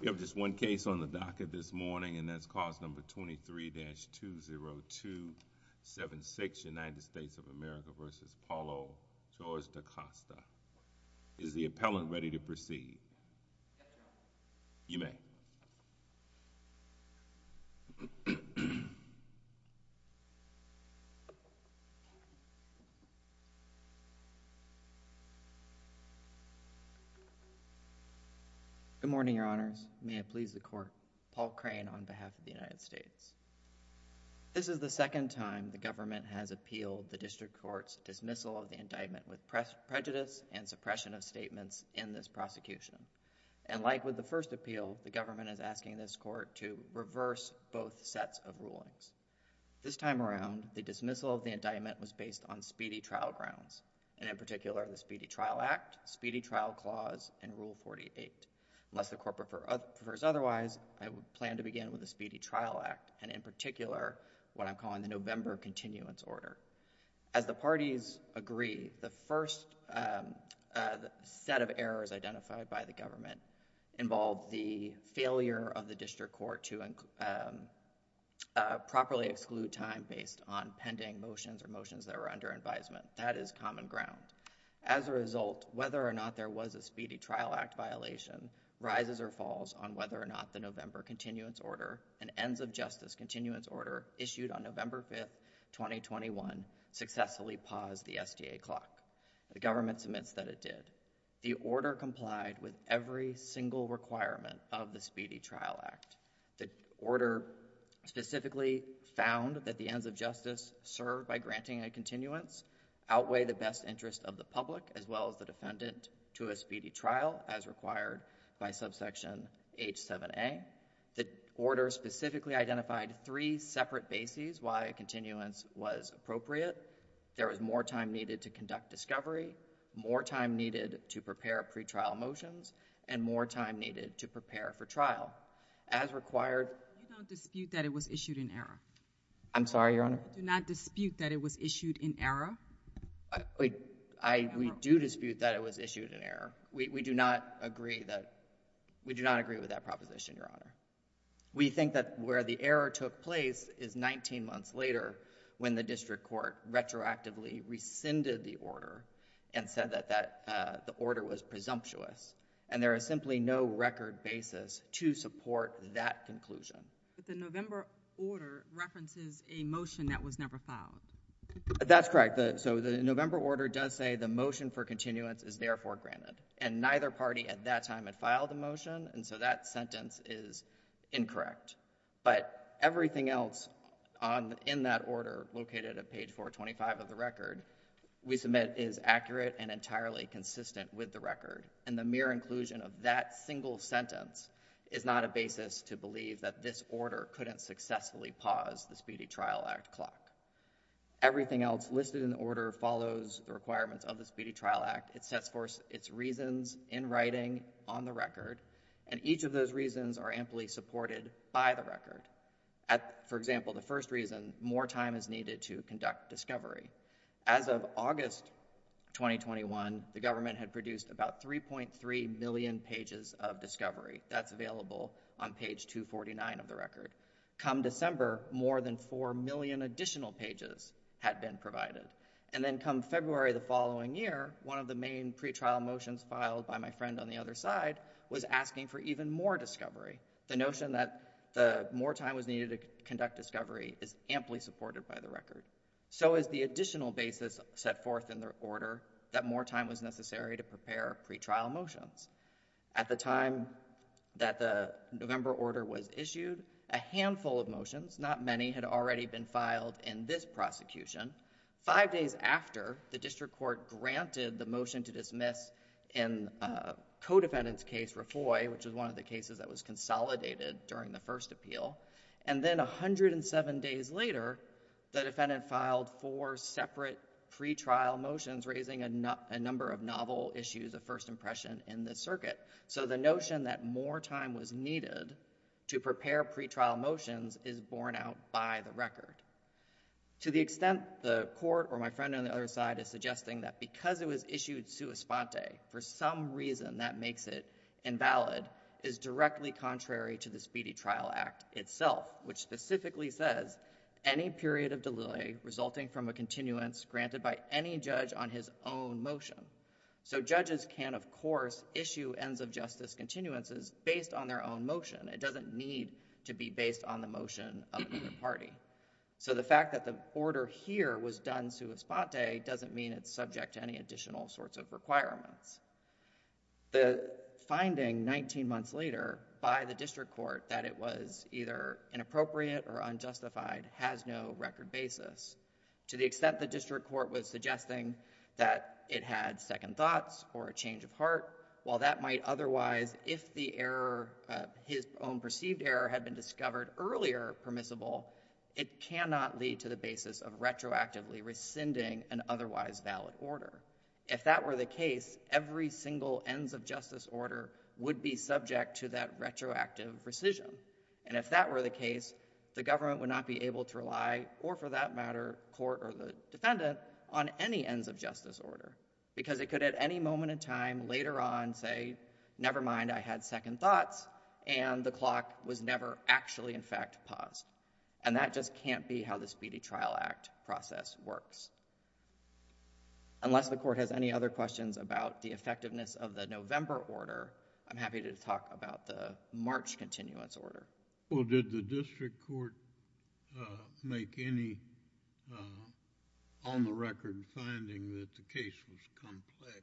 We have just one case on the docket this morning, and that's cause number 23-20276, United States of America v. Paolo George da Costa. Is the appellant ready to proceed? You may. Good morning, your honors. May it please the court, Paul Crane on behalf of the United States. This is the second time the government has appealed the district court's dismissal of the indictment with prejudice and suppression of statements in this prosecution. And like with the first appeal, the government is asking this court to reverse both sets of rulings. This time around, the dismissal of the indictment was based on speedy trial grounds, and in particular the Speedy Trial Act, Speedy Trial Clause, and Rule 48. Unless the court prefers otherwise, I plan to begin with the Speedy Trial Act, and in particular what I'm calling the November Continuance Order. As the parties agree, the first set of errors identified by the government involved the failure of the district court to properly exclude time based on pending motions or motions that were under advisement. That is common ground. As a result, whether or not there was a Speedy Trial Act violation rises or falls on whether or not the November Continuance Order and Ends of Justice Continuance Order issued on November 21 successfully paused the SDA clock. The government submits that it did. The order complied with every single requirement of the Speedy Trial Act. The order specifically found that the ends of justice served by granting a continuance outweigh the best interest of the public as well as the defendant to a speedy trial as required by Subsection H7A. The order specifically identified three separate bases why a continuance was appropriate. There was more time needed to conduct discovery, more time needed to prepare pretrial motions, and more time needed to prepare for trial. As required... Do you not dispute that it was issued in error? I'm sorry, Your Honor? Do you not dispute that it was issued in error? We do dispute that it was issued in error. We do not agree with that proposition, Your Honor. We think that where the error took place is 19 months later when the district court retroactively rescinded the order and said that the order was presumptuous, and there is simply no record basis to support that conclusion. But the November order references a motion that was never filed. That's correct. So the November order does say the motion for continuance is therefore granted. And neither party at that time had filed the motion, and so that sentence is incorrect. But everything else in that order, located at page 425 of the record, we submit is accurate and entirely consistent with the record. And the mere inclusion of that single sentence is not a basis to believe that this order couldn't successfully pause the Speedy Trial Act clock. Everything else listed in the order follows the requirements of the Speedy Trial Act. It sets forth its reasons in writing on the record, and each of those reasons are amply supported by the record. For example, the first reason, more time is needed to conduct discovery. As of August 2021, the government had produced about 3.3 million pages of discovery. That's available on page 249 of the record. Come December, more than 4 million additional pages had been provided. And then come February the following year, one of the main pretrial motions filed by my friend on the other side was asking for even more discovery. The notion that more time was needed to conduct discovery is amply supported by the record. So is the additional basis set forth in the order that more time was necessary to prepare pretrial motions. At the time that the November order was issued, a handful of motions, not many, had already been filed in this prosecution. Five days after, the district court granted the motion to dismiss in a co-defendant's case, Refloy, which was one of the cases that was consolidated during the first appeal. And then 107 days later, the defendant filed four separate pretrial motions raising a number of novel issues of first impression in this circuit. So the notion that more time was needed to prepare pretrial motions is borne out by the record. To the extent the court or my friend on the other side is suggesting that because it was issued sua sponte, for some reason that makes it invalid, is directly contrary to the Speedy Trial Act itself, which specifically says, any period of delay resulting from a continuance granted by any judge on his own motion. So judges can, of course, issue ends of justice continuances based on their own motion. It doesn't need to be based on the motion of either party. So the fact that the order here was done sua sponte doesn't mean it's subject to any additional sorts of requirements. The finding 19 months later by the district court that it was either inappropriate or unjustified has no record basis. To the extent the district court was suggesting that it had second thoughts or a change of heart, while that might otherwise, if the error, his own perceived error had been discovered earlier permissible, it cannot lead to the basis of retroactively rescinding an otherwise valid order. If that were the case, every single ends of justice order would be subject to that retroactive rescission. And if that were the case, the government would not be able to rely, or for that matter, court or the defendant, on any ends of justice order, because it could at any moment in time later on say, never mind, I had second thoughts, and the clock was never actually in fact paused. And that just can't be how the Speedy Trial Act process works. Unless the court has any other questions about the effectiveness of the November order, I'm not sure. Well, did the district court make any on-the-record finding that the case was complex?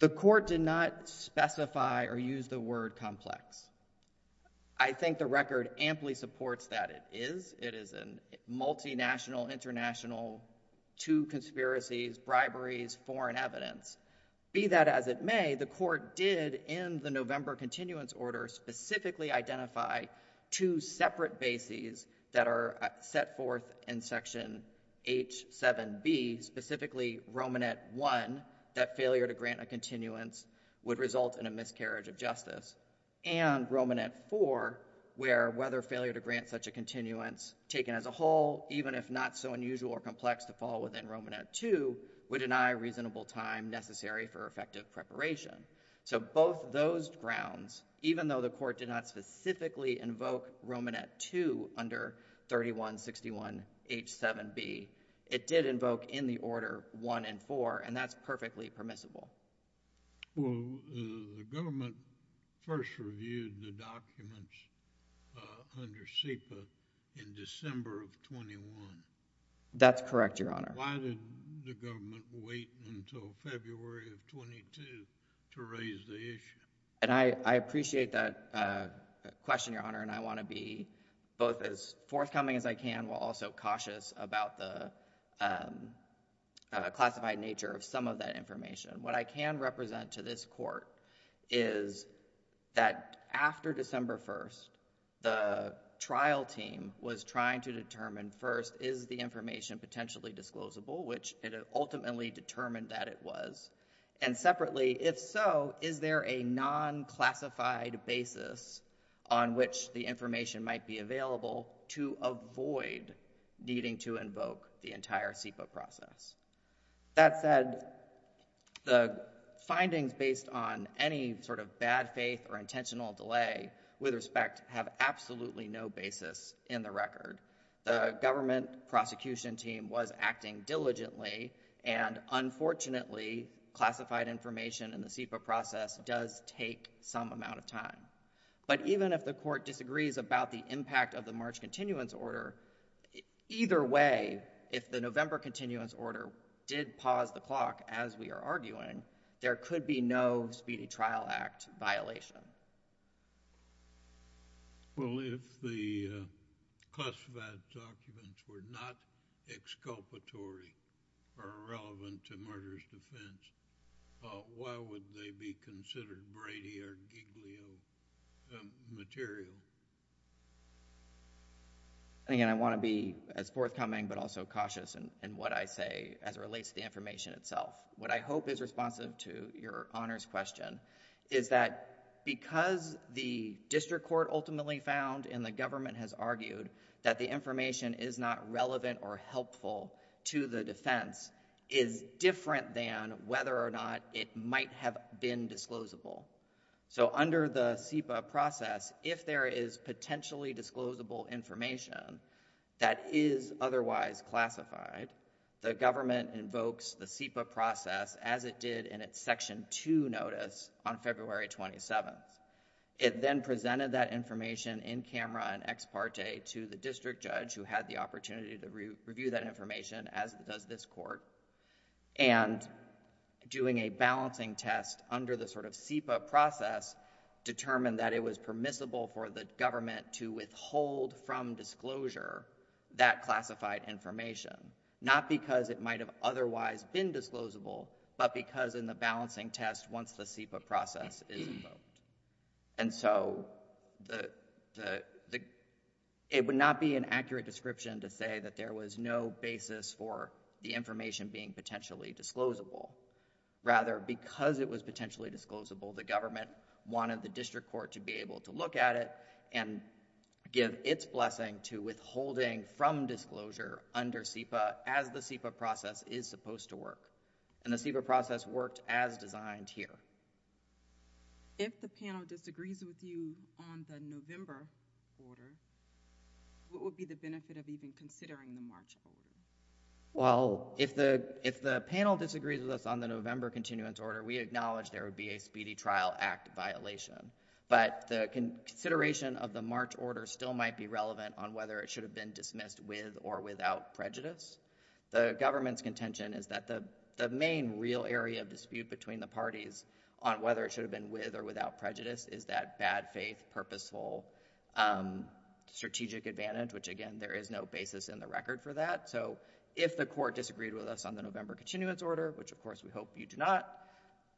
The court did not specify or use the word complex. I think the record amply supports that it is. It is a multinational, international, to conspiracies, briberies, foreign evidence. Be that as it may, the court did, in the November continuance order, specifically identify two separate bases that are set forth in section H7B, specifically Romanet I, that failure to grant a continuance would result in a miscarriage of justice, and Romanet IV, where whether failure to grant such a continuance taken as a whole, even if not so unusual or complex to fall within Romanet II, would deny reasonable time necessary for effective preparation. So both those grounds, even though the court did not specifically invoke Romanet II under 3161H7B, it did invoke in the order I and IV, and that's perfectly permissible. Well, the government first reviewed the documents under SEPA in December of 21. That's correct, Your Honor. Why did the government wait until February of 22 to raise the issue? And I appreciate that question, Your Honor, and I want to be both as forthcoming as I can while also cautious about the classified nature of some of that information. What I can represent to this court is that after December 1st, the trial team was trying to determine first, is the information potentially disclosable, which it ultimately determined that it was, and separately, if so, is there a non-classified basis on which the information might be available to avoid needing to invoke the entire SEPA process? That said, the findings based on any sort of bad faith or intentional delay, with respect, have absolutely no basis in the record. The government prosecution team was acting diligently, and unfortunately, classified information in the SEPA process does take some amount of time. But even if the court disagrees about the impact of the March Continuance Order, either way, if the November Continuance Order did pause the clock, as we are arguing, there could be no Speedy Trial Act violation. Well, if the classified documents were not exculpatory or relevant to murderous defense, why would they be considered Brady or Giglio material? Again, I want to be as forthcoming but also cautious in what I say as it relates to the information itself. What I hope is responsive to your Honor's question is that because the District Court ultimately found and the government has argued that the information is not relevant or helpful to the defense is different than whether or not it might have been disclosable. So under the SEPA process, if there is potentially disclosable information that is otherwise classified, the government invokes the SEPA process as it did in its Section 2 notice on February 27th. It then presented that information in camera and ex parte to the district judge who had the opportunity to review that information as does this court. Doing a balancing test under the SEPA process determined that it was permissible for the not because it might have otherwise been disclosable but because in the balancing test once the SEPA process is invoked. And so, it would not be an accurate description to say that there was no basis for the information being potentially disclosable. Rather, because it was potentially disclosable, the government wanted the District Court to be able to look at it and give its blessing to withholding from disclosure under SEPA as the SEPA process is supposed to work. And the SEPA process worked as designed here. If the panel disagrees with you on the November order, what would be the benefit of even considering the March order? Well, if the panel disagrees with us on the November continuance order, we acknowledge there would be a Speedy Trial Act violation. But the consideration of the March order still might be relevant on whether it should have been dismissed with or without prejudice. The government's contention is that the main real area of dispute between the parties on whether it should have been with or without prejudice is that bad faith, purposeful, strategic advantage, which again, there is no basis in the record for that. So, if the court disagreed with us on the November continuance order, which of course we hope you do not,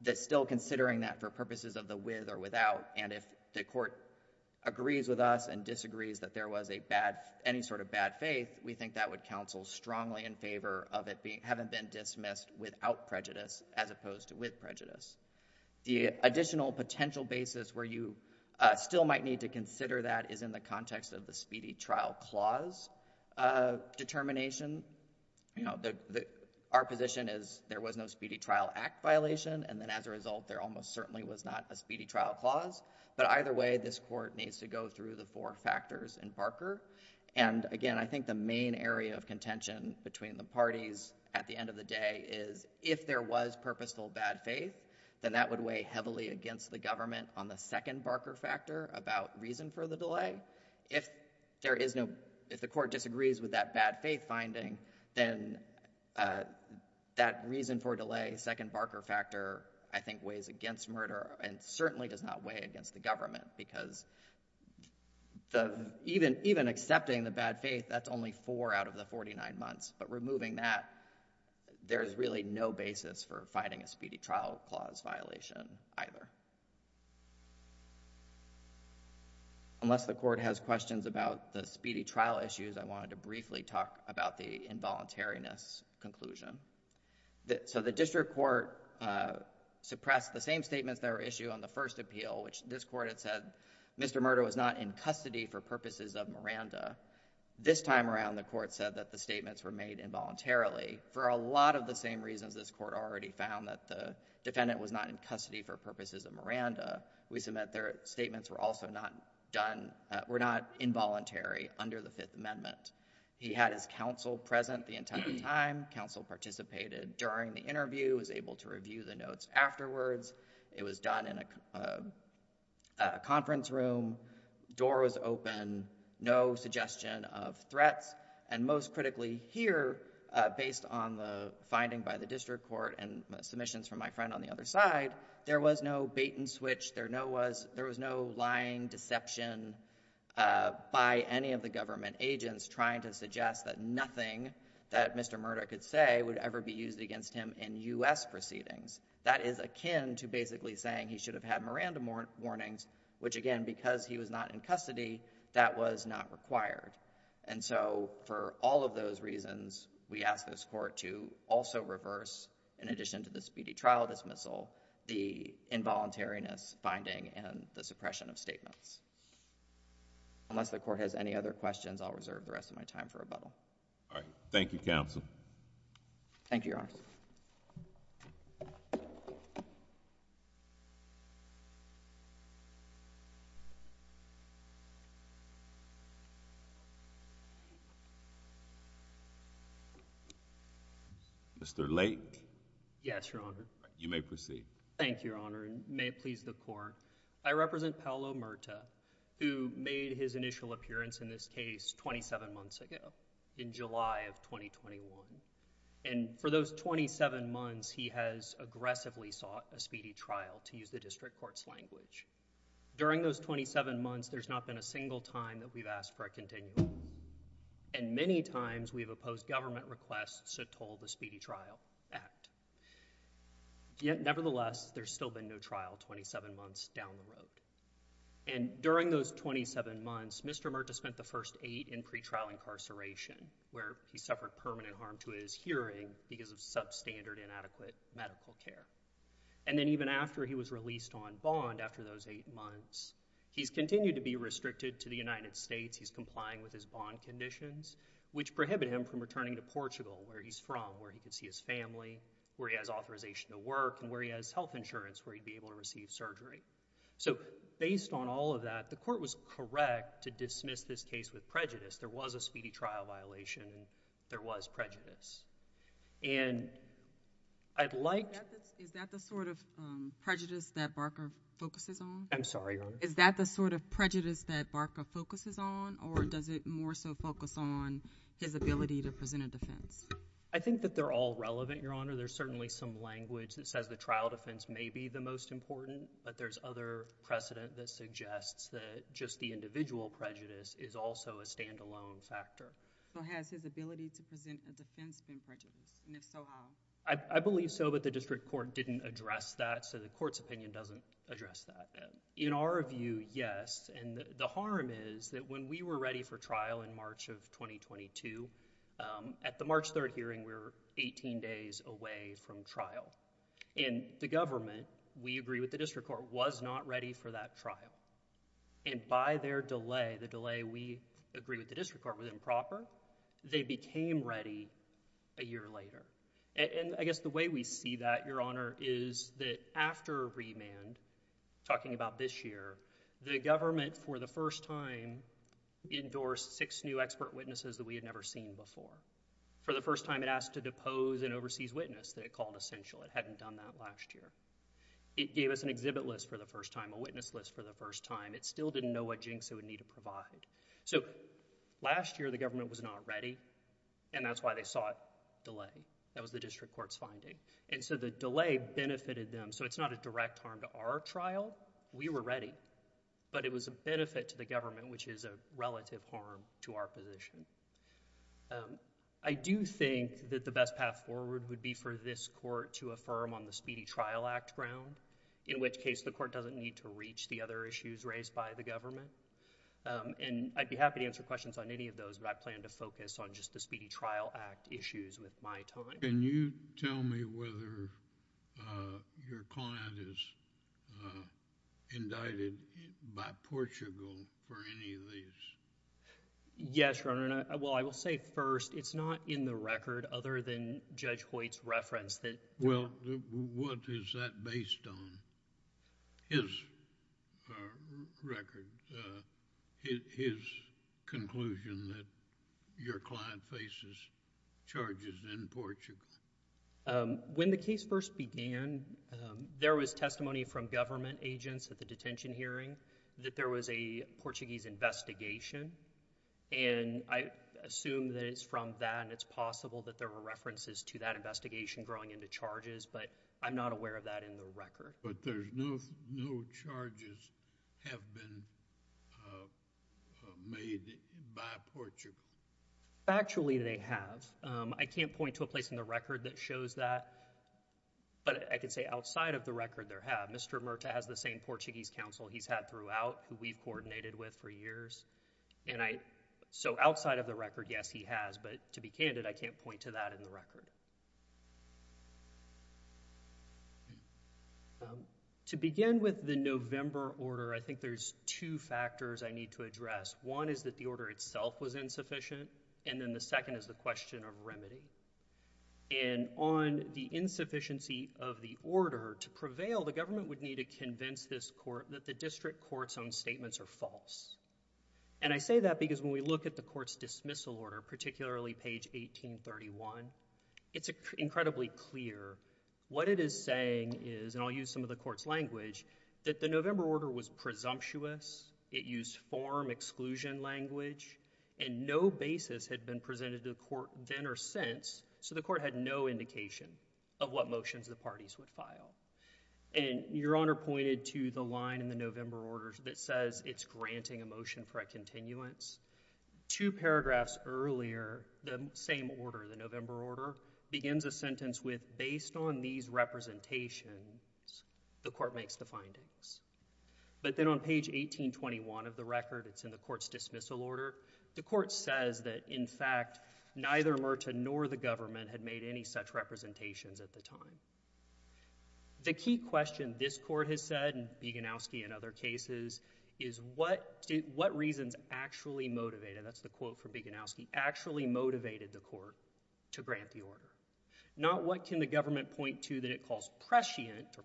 that still considering that for purposes of the with or without, and if the court agrees with us and disagrees that there was a bad, any sort of bad faith, we think that would counsel strongly in favor of it being, having been dismissed without prejudice as opposed to with prejudice. The additional potential basis where you still might need to consider that is in the context of the Speedy Trial Clause determination. You know, our position is there was no Speedy Trial Act violation, and then as a result, there almost certainly was not a Speedy Trial Clause. But either way, this court needs to go through the four factors in Barker. And again, I think the main area of contention between the parties at the end of the day is if there was purposeful bad faith, then that would weigh heavily against the government on the second Barker factor about reason for the delay. If there is no, if the court disagrees with that bad faith finding, then that reason for delay, second Barker factor, I think weighs against murder, and certainly does not weigh against the government, because even accepting the bad faith, that's only four out of the 49 months. But removing that, there's really no basis for finding a Speedy Trial Clause violation either. Unless the court has questions about the Speedy Trial issues, I wanted to briefly talk about the involuntariness conclusion. So the district court suppressed the same statements that were issued on the first appeal, which this court had said, Mr. Murdoch was not in custody for purposes of Miranda. This time around, the court said that the statements were made involuntarily for a lot of the same reasons this court already found, that the defendant was not in custody for purposes of Miranda. We submit their statements were also not done, were not involuntary under the Fifth Amendment. He had his counsel present the entire time. Counsel participated during the interview, was able to review the notes afterwards. It was done in a conference room, door was open, no suggestion of threats. And most critically here, based on the finding by the district court and submissions from my friend on the other side, there was no bait and switch, there was no lying deception by any of the government agents trying to suggest that nothing that Mr. Murdoch could say would ever be used against him in U.S. proceedings. That is akin to basically saying he should have had Miranda warnings, which again, because he was not in custody, that was not required. And so for all of those reasons, we ask this court to also reverse, in addition to the immediate trial dismissal, the involuntariness finding and the suppression of statements. Unless the court has any other questions, I'll reserve the rest of my time for rebuttal. All right. Thank you, counsel. Thank you, Your Honor. Mr. Lake? Yes, Your Honor. You may proceed. Thank you, Your Honor. And may it please the Court, I represent Paolo Murta, who made his initial appearance in this case twenty-seven months ago, in July of 2021. And for those twenty-seven months, he has aggressively sought a speedy trial, to use the district court's language. During those twenty-seven months, there's not been a single time that we've asked for a continual. And many times, we've opposed government requests to toll the Speedy Trial Act. Yet, nevertheless, there's still been no trial twenty-seven months down the road. And during those twenty-seven months, Mr. Murta spent the first eight in pretrial incarceration, where he suffered permanent harm to his hearing because of substandard, inadequate medical care. And then even after he was released on bond, after those eight months, he's continued to be restricted to the United States. He's complying with his bond conditions, which prohibit him from returning to Portugal, where he's from, where he could see his family, where he has authorization to work, and where he has health insurance, where he'd be able to receive surgery. So based on all of that, the Court was correct to dismiss this case with prejudice. There was a speedy trial violation, and there was prejudice. And I'd like to— Is that the sort of prejudice that Barker focuses on? I'm sorry, Your Honor? Is that the sort of prejudice that Barker focuses on, or does it more so focus on his ability to present a defense? I think that they're all relevant, Your Honor. There's certainly some language that says the trial defense may be the most important, but there's other precedent that suggests that just the individual prejudice is also a standalone factor. So has his ability to present a defense been prejudiced, and if so, how? I believe so, but the District Court didn't address that, so the Court's opinion doesn't address that. In our view, yes, and the harm is that when we were ready for trial in March of 2022, at the March 3rd hearing, we were 18 days away from trial, and the government, we agree with the District Court, was not ready for that trial. And by their delay, the delay we agree with the District Court, was improper. They became ready a year later. And I guess the way we see that, Your Honor, is that after remand, talking about this year, the government, for the first time, endorsed six new expert witnesses that we had never seen before. For the first time, it asked to depose an overseas witness that it called essential. It hadn't done that last year. It gave us an exhibit list for the first time, a witness list for the first time. So, last year, the government was not ready, and that's why they sought delay. That was the District Court's finding. And so, the delay benefited them, so it's not a direct harm to our trial. We were ready, but it was a benefit to the government, which is a relative harm to our position. I do think that the best path forward would be for this Court to affirm on the Speedy Trial Act ground, in which case the Court doesn't need to reach the other issues raised by the government. And I'd be happy to answer questions on any of those, but I plan to focus on just the Speedy Trial Act issues with my time. Can you tell me whether your client is indicted by Portugal for any of these? Yes, Your Honor. Well, I will say first, it's not in the record, other than Judge Hoyt's reference that... Well, what is that based on? His record, his conclusion that your client faces charges in Portugal. When the case first began, there was testimony from government agents at the detention hearing that there was a Portuguese investigation, and I assume that it's from that, and it's possible that there were references to that investigation growing into charges, but I'm not aware of that in the record. But there's no charges have been made by Portugal? Actually they have. I can't point to a place in the record that shows that, but I can say outside of the record there have. Mr. Murta has the same Portuguese counsel he's had throughout, who we've coordinated with for years, and I... so outside of the record, yes, he has, but to be candid, I can't point to that in the record. To begin with the November order, I think there's two factors I need to address. One is that the order itself was insufficient, and then the second is the question of remedy, and on the insufficiency of the order, to prevail, the government would need to convince this court that the district court's own statements are false, and I say that because when we look at the court's dismissal order, particularly page 1831, it's incredibly clear. What it is saying is, and I'll use some of the court's language, that the November order was presumptuous. It used form exclusion language, and no basis had been presented to the court then or since, so the court had no indication of what motions the parties would file, and Your Honor pointed to the line in the November order that says it's granting a motion for a continuance. Two paragraphs earlier, the same order, the November order, begins a sentence with, based on these representations, the court makes the findings, but then on page 1821 of the record, it's in the court's dismissal order, the court says that, in fact, neither Murta nor the government had made any such representations at the time. The key question this court has said, and Bieganowski in other cases, is what reasons actually motivated, that's the quote from Bieganowski, actually motivated the court to grant the order? Not what can the government point to that it calls prescient, or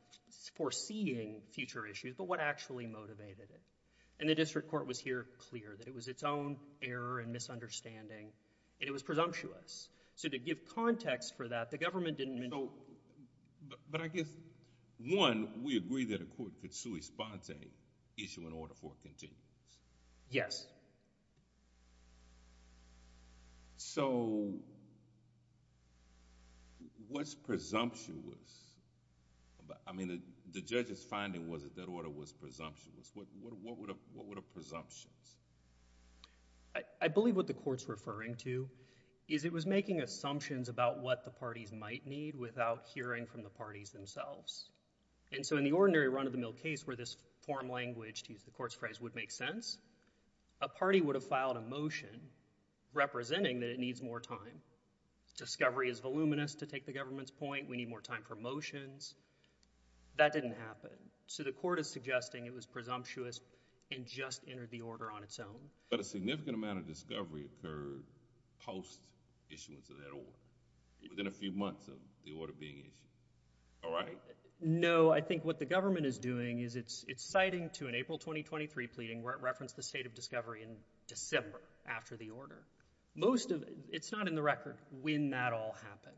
foreseeing future issues, but what actually motivated it, and the district court was here clear that it was its own error and misunderstanding, and it was presumptuous, so to give context for that, the government didn't... But I guess, one, we agree that a court could sui sponte, issue an order for a continuance. Yes. So, what's presumptuous, I mean, the judge's finding was that that order was presumptuous, what were the presumptions? I believe what the court's referring to is it was making assumptions about what the parties might need without hearing from the parties themselves, and so in the ordinary run-of-the-mill case where this form language, to use the court's phrase, would make sense, a party would have filed a motion representing that it needs more time. Discovery is voluminous to take the government's point, we need more time for motions. That didn't happen, so the court is suggesting it was presumptuous and just entered the order on its own. But a significant amount of discovery occurred post-issuance of that order, within a few months of the order being issued, all right? No, I think what the government is doing is it's citing to an April 2023 pleading where it referenced the state of discovery in December after the order. Most of... It's not in the record when that all happened,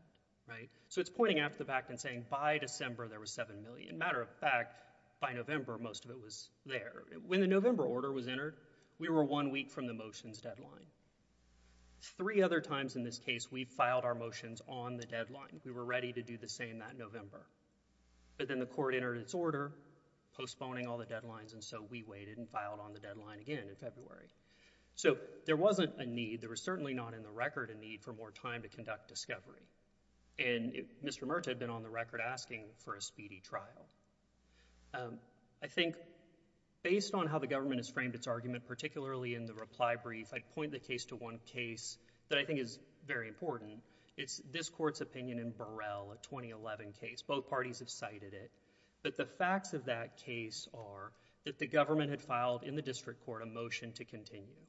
right? So it's pointing out the fact and saying, by December, there was 7 million. Matter of fact, by November, most of it was there. When the November order was entered, we were one week from the motions deadline. Three other times in this case, we filed our motions on the deadline. We were ready to do the same that November, but then the court entered its order, postponing all the deadlines, and so we waited and filed on the deadline again in February. So there wasn't a need, there was certainly not in the record a need for more time to conduct discovery, and Mr. Mertz had been on the record asking for a speedy trial. I think based on how the government has framed its argument, particularly in the reply brief, I'd point the case to one case that I think is very important. It's this court's opinion in Burrell, a 2011 case. Both parties have cited it, but the facts of that case are that the government had filed in the district court a motion to continue,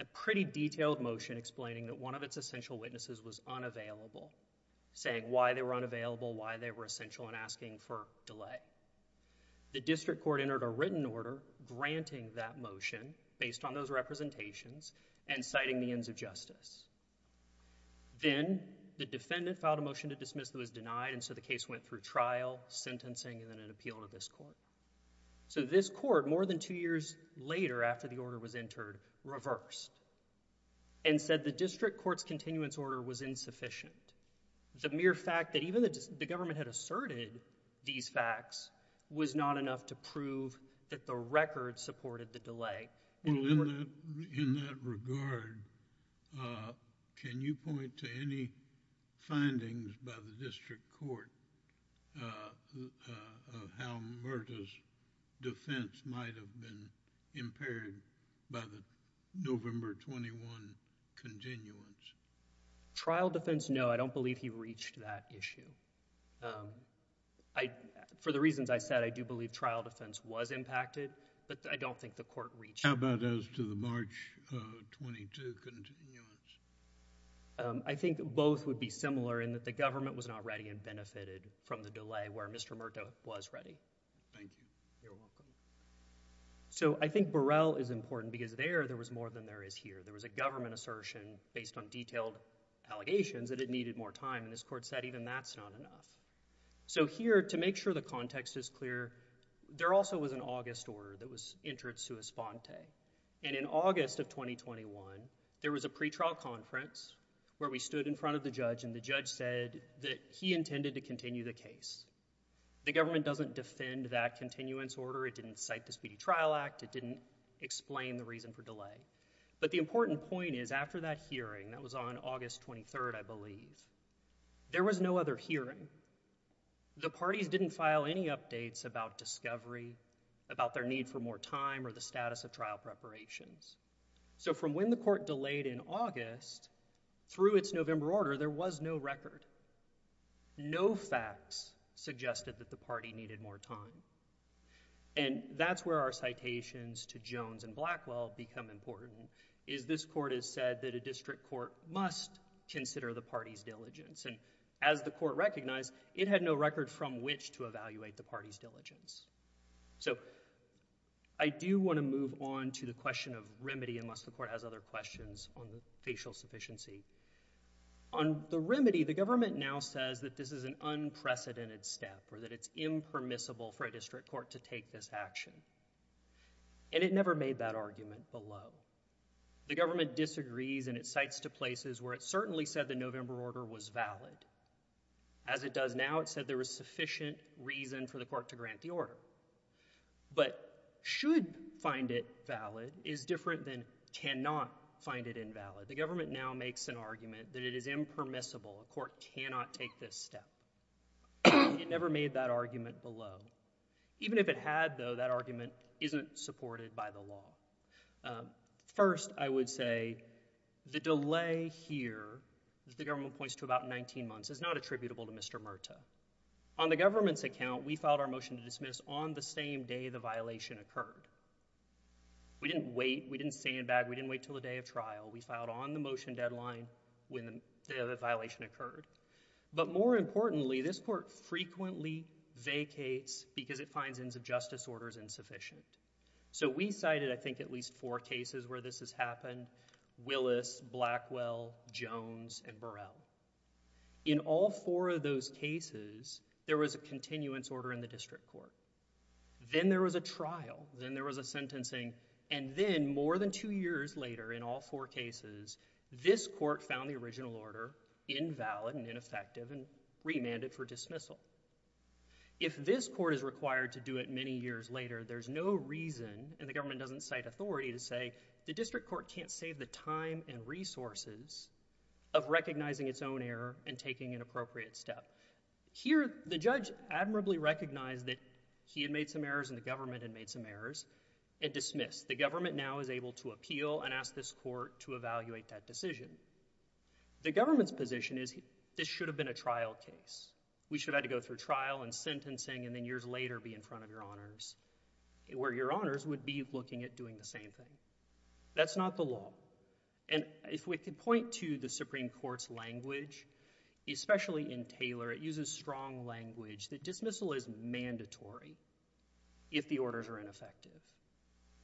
a pretty detailed motion explaining that one of its essential witnesses was unavailable, saying why they were unavailable, why they were essential, and asking for delay. The district court entered a written order granting that motion based on those representations and citing the ends of justice. Then the defendant filed a motion to dismiss that was denied, and so the case went through trial, sentencing, and then an appeal to this court. So this court, more than two years later after the order was entered, reversed and said the district court's continuance order was insufficient. The mere fact that even the government had asserted these facts was not enough to prove that the record supported the delay... Well, in that regard, can you point to any findings by the district court of how Murtah's defense might have been impaired by the November 21 continuance? Trial defense, no. I don't believe he reached that issue. For the reasons I said, I do believe trial defense was impacted, but I don't think the court reached... How about as to the March 22 continuance? I think both would be similar in that the government was not ready and benefited from the delay where Mr. Murtah was ready. Thank you. You're welcome. So I think Burrell is important because there, there was more than there is here. There was a government assertion based on detailed allegations that it needed more time and this court said even that's not enough. So here, to make sure the context is clear, there also was an August order that was entered sua sponte, and in August of 2021, there was a pretrial conference where we stood in front of the judge and the judge said that he intended to continue the case. The government doesn't defend that continuance order, it didn't cite the Speedy Trial Act, it didn't explain the reason for delay. But the important point is after that hearing, that was on August 23rd, I believe, there was no other hearing. The parties didn't file any updates about discovery, about their need for more time or the status of trial preparations. So from when the court delayed in August through its November order, there was no record. No facts suggested that the party needed more time. And that's where our citations to Jones and Blackwell become important, is this court has said that a district court must consider the party's diligence, and as the court recognized, it had no record from which to evaluate the party's diligence. So I do want to move on to the question of remedy, unless the court has other questions on the facial sufficiency. On the remedy, the government now says that this is an unprecedented step or that it's impermissible for a district court to take this action. And it never made that argument below. The government disagrees and it cites to places where it certainly said the November order was valid. As it does now, it said there was sufficient reason for the court to grant the order. But should find it valid is different than cannot find it invalid. The government now makes an argument that it is impermissible, a court cannot take this step. It never made that argument below. Even if it had, though, that argument isn't supported by the law. First, I would say the delay here that the government points to about 19 months is not attributable to Mr. Murtaugh. On the government's account, we filed our motion to dismiss on the same day the violation occurred. We didn't wait. We didn't sandbag. We didn't wait until the day of trial. We filed on the motion deadline when the violation occurred. But more importantly, this court frequently vacates because it finds ends of justice orders insufficient. So, we cited, I think, at least four cases where this has happened, Willis, Blackwell, Jones, and Burrell. In all four of those cases, there was a continuance order in the district court. Then there was a trial. Then there was a sentencing. And then, more than two years later in all four cases, this court found the original order invalid and ineffective and remanded for dismissal. If this court is required to do it many years later, there's no reason, and the government doesn't cite authority, to say the district court can't save the time and resources of recognizing its own error and taking an appropriate step. Here, the judge admirably recognized that he had made some errors and the government had made some errors and dismissed. The government now is able to appeal and ask this court to evaluate that decision. The government's position is this should have been a trial case. We should have had to go through trial and sentencing and then years later be in front of your honors, where your honors would be looking at doing the same thing. That's not the law. And if we could point to the Supreme Court's language, especially in Taylor, it uses strong language that dismissal is mandatory if the orders are ineffective.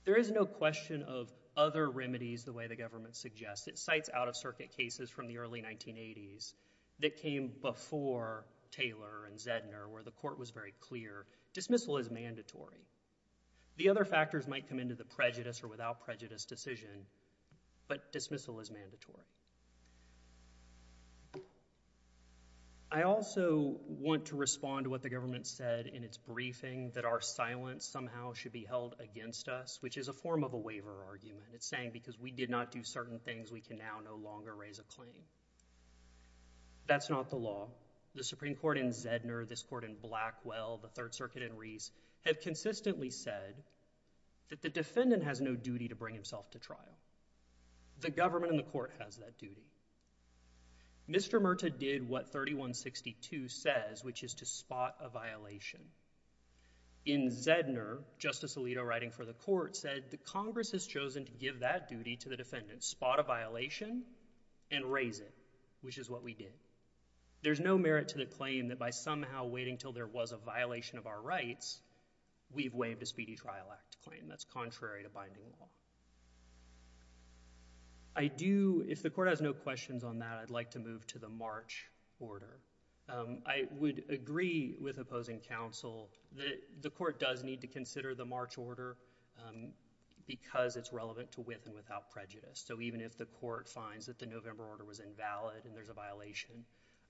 There is no question of other remedies the way the government suggests. It cites out-of-circuit cases from the early 1980s that came before Taylor and Zedner where the court was very clear, dismissal is mandatory. The other factors might come into the prejudice or without prejudice decision, but dismissal is mandatory. I also want to respond to what the government said in its briefing, that our silence somehow should be held against us, which is a form of a waiver argument. It's saying because we did not do certain things, we can now no longer raise a claim. That's not the law. The Supreme Court in Zedner, this court in Blackwell, the Third Circuit in Reese have consistently said that the defendant has no duty to bring himself to trial. The government and the court has that duty. Mr. Murtaugh did what 3162 says, which is to spot a violation. In Zedner, Justice Alito writing for the court said, the Congress has chosen to give that duty to the defendant, spot a violation and raise it, which is what we did. There's no merit to the claim that by somehow waiting until there was a violation of our rights, we've waived a Speedy Trial Act claim, that's contrary to binding law. I do, if the court has no questions on that, I'd like to move to the March order. I would agree with opposing counsel that the court does need to consider the March order because it's relevant to with and without prejudice. Even if the court finds that the November order was invalid and there's a violation,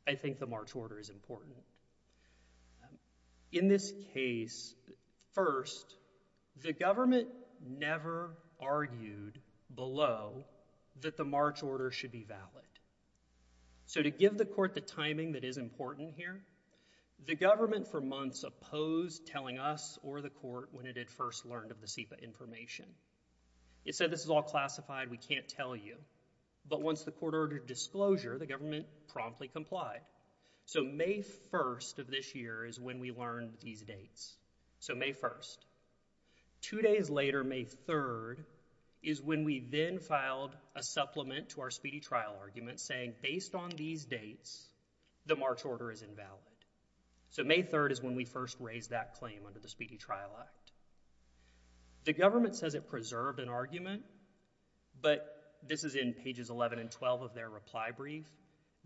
I think the March order is important. In this case, first, the government never argued below that the March order should be valid. To give the court the timing that is important here, the government for months opposed telling us or the court when it had first learned of the SEPA information. It said this is all classified, we can't tell you, but once the court ordered disclosure, the government promptly complied. May 1st of this year is when we learned these dates, so May 1st. Two days later, May 3rd, is when we then filed a supplement to our Speedy Trial Argument saying based on these dates, the March order is invalid. So May 3rd is when we first raised that claim under the Speedy Trial Act. The government says it preserved an argument, but this is in pages 11 and 12 of their reply brief.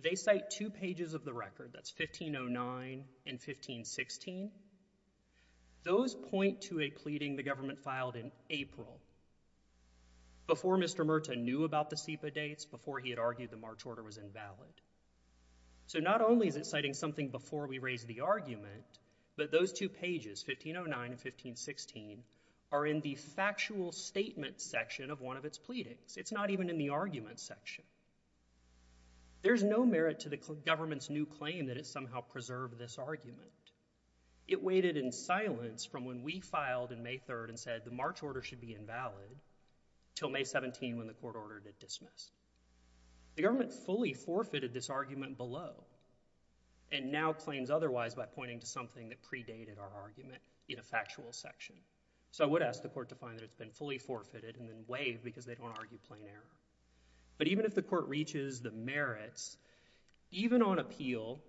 They cite two pages of the record, that's 1509 and 1516. Those point to a pleading the government filed in April, before Mr. Murta knew about the SEPA dates, before he had argued the March order was invalid. So not only is it citing something before we raised the argument, but those two pages, 1509 and 1516, are in the factual statement section of one of its pleadings. It's not even in the argument section. There's no merit to the government's new claim that it somehow preserved this argument. It waited in silence from when we filed in May 3rd and said the March order should be invalid, till May 17 when the court ordered it dismissed. The government fully forfeited this argument below, and now claims otherwise by pointing to something that predated our argument in a factual section. So I would ask the court to find that it's been fully forfeited and then waive because they don't argue plain error. But even if the court reaches the merits, even on appeal,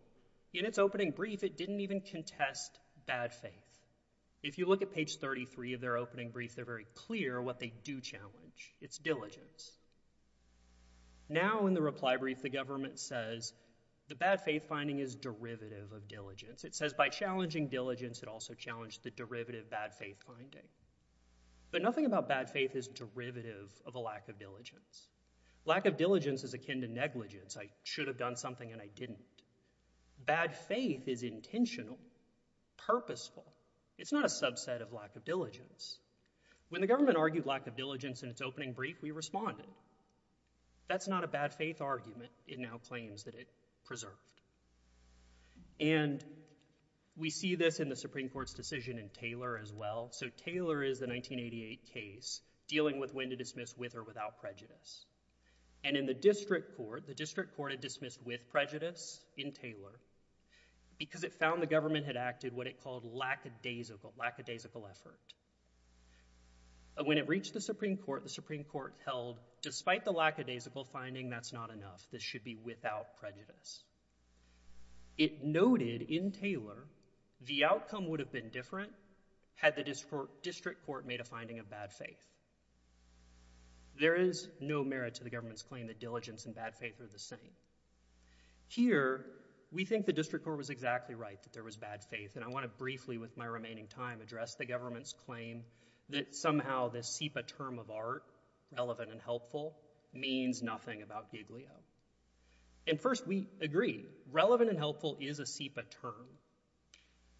in its opening brief, it didn't even contest bad faith. If you look at page 33 of their opening brief, they're very clear what they do challenge. It's diligence. Now in the reply brief, the government says the bad faith finding is derivative of diligence. It says by challenging diligence, it also challenged the derivative bad faith finding. But nothing about bad faith is derivative of a lack of diligence. Lack of diligence is akin to negligence. I should have done something and I didn't. Bad faith is intentional, purposeful. It's not a subset of lack of diligence. When the government argued lack of diligence in its opening brief, we responded. That's not a bad faith argument. It now claims that it preserved. And we see this in the Supreme Court's decision in Taylor as well. So Taylor is the 1988 case dealing with when to dismiss with or without prejudice. And in the district court, the district court had dismissed with prejudice in Taylor because it found the government had acted what it called lackadaisical, lackadaisical effort. When it reached the Supreme Court, the Supreme Court held despite the lackadaisical finding, that's not enough. This should be without prejudice. It noted in Taylor, the outcome would have been different had the district court made a finding of bad faith. There is no merit to the government's claim that diligence and bad faith are the same. Here, we think the district court was exactly right, that there was bad faith. And I want to briefly with my remaining time address the government's claim that somehow this SEPA term of art, relevant and helpful, means nothing about Giglio. And first, we agree. Relevant and helpful is a SEPA term.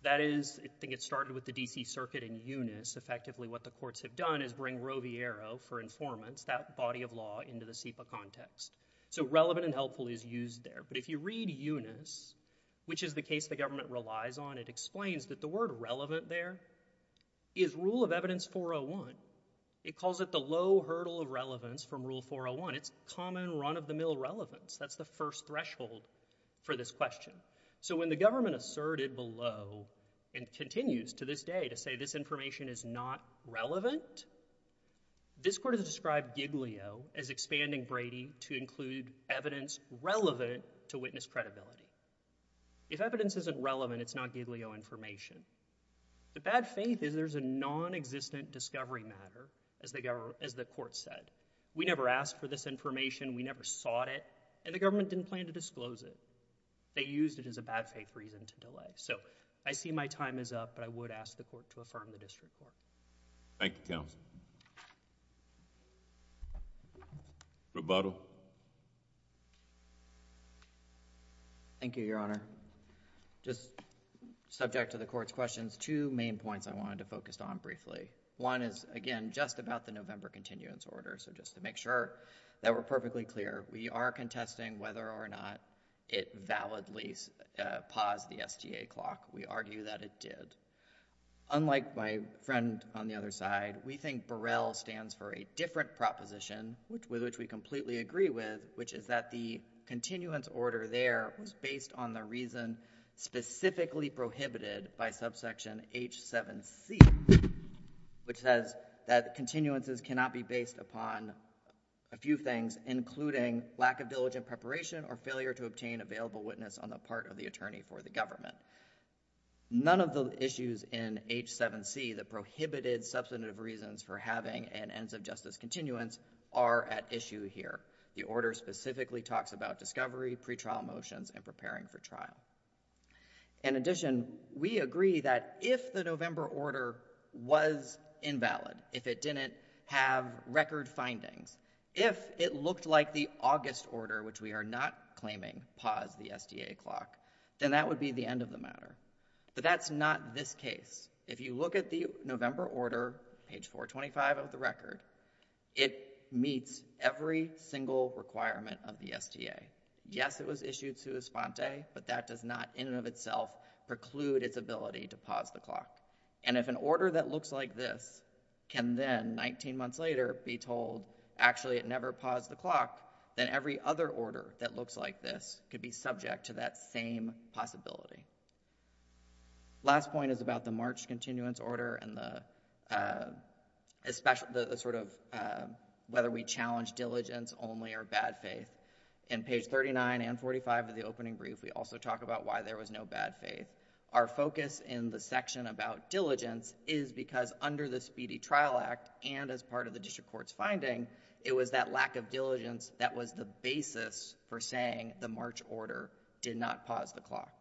That is, I think it started with the D.C. Circuit in Eunice, effectively what the courts have done is bring Roviero for informants, that body of law, into the SEPA context. So relevant and helpful is used there. But if you read Eunice, which is the case the government relies on, it explains that the word relevant there is Rule of Evidence 401. It calls it the low hurdle of relevance from Rule 401. It's common, run-of-the-mill relevance. That's the first threshold for this question. So when the government asserted below and continues to this day to say this information is not relevant, this court has described Giglio as expanding Brady to include evidence relevant to witness credibility. If evidence isn't relevant, it's not Giglio information. The bad faith is there's a nonexistent discovery matter, as the court said. We never asked for this information. We never sought it. And the government didn't plan to disclose it. They used it as a bad faith reason to delay. So I see my time is up, but I would ask the court to affirm the district court. Thank you, counsel. Roboto. Thank you, Your Honor. Just subject to the court's questions, two main points I wanted to focus on briefly. One is, again, just about the November continuance order. So just to make sure that we're perfectly clear, we are contesting whether or not it validly paused the STA clock. We argue that it did. Unlike my friend on the other side, we think Barrell stands for a different proposition, with which we completely agree with, which is that the continuance order there was based on the reason specifically prohibited by subsection H7C, which says that continuances cannot be based upon a few things, including lack of diligent preparation or failure to obtain available witness on the part of the attorney for the government. None of the issues in H7C, the prohibited substantive reasons for having an ends of justice continuance, are at issue here. The order specifically talks about discovery, pre-trial motions, and preparing for trial. In addition, we agree that if the November order was invalid, if it didn't have record findings, if it looked like the August order, which we are not claiming paused the STA clock, then that would be the end of the matter, but that's not this case. If you look at the November order, page 425 of the record, it meets every single requirement of the STA. Yes, it was issued sua sponte, but that does not in and of itself preclude its ability to pause the clock, and if an order that looks like this can then, 19 months later, be told actually it never paused the clock, then every other order that looks like this could be subject to that same possibility. The last point is about the March continuance order and whether we challenge diligence only or bad faith. In page 39 and 45 of the opening brief, we also talk about why there was no bad faith. Our focus in the section about diligence is because under the Speedy Trial Act and as part of the district court's finding, it was that lack of diligence that was the basis for saying the March order did not pause the clock.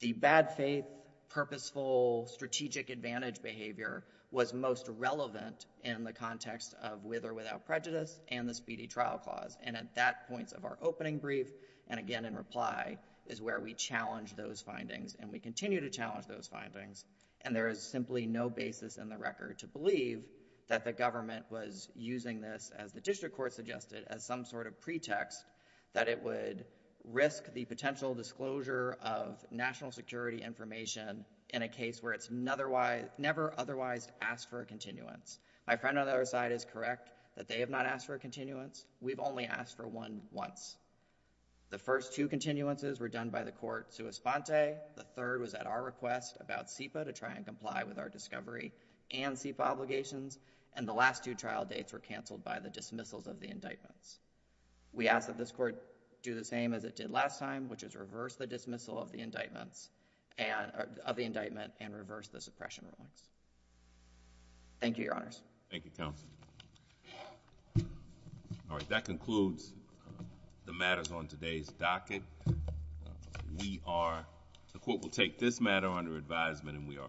The bad faith, purposeful, strategic advantage behavior was most relevant in the context of with or without prejudice and the Speedy Trial Clause, and at that point of our opening brief and again in reply is where we challenge those findings, and we continue to challenge those findings, and there is simply no basis in the record to believe that the government was using this, as the district court suggested, as some sort of pretext that it would risk the potential disclosure of national security information in a case where it's never otherwise asked for a continuance. My friend on the other side is correct that they have not asked for a continuance. We've only asked for one once. The first two continuances were done by the court sua sponte, the third was at our request about SEPA to try and comply with our discovery and SEPA obligations, and the last two trial dates were canceled by the dismissals of the indictments. We ask that this court do the same as it did last time, which is reverse the dismissal of the indictment and reverse the suppression rulings. Thank you, Your Honors. Thank you, Counsel. All right. That concludes the matters on today's docket. We are—the court will take this matter under advisement and we are adjourned.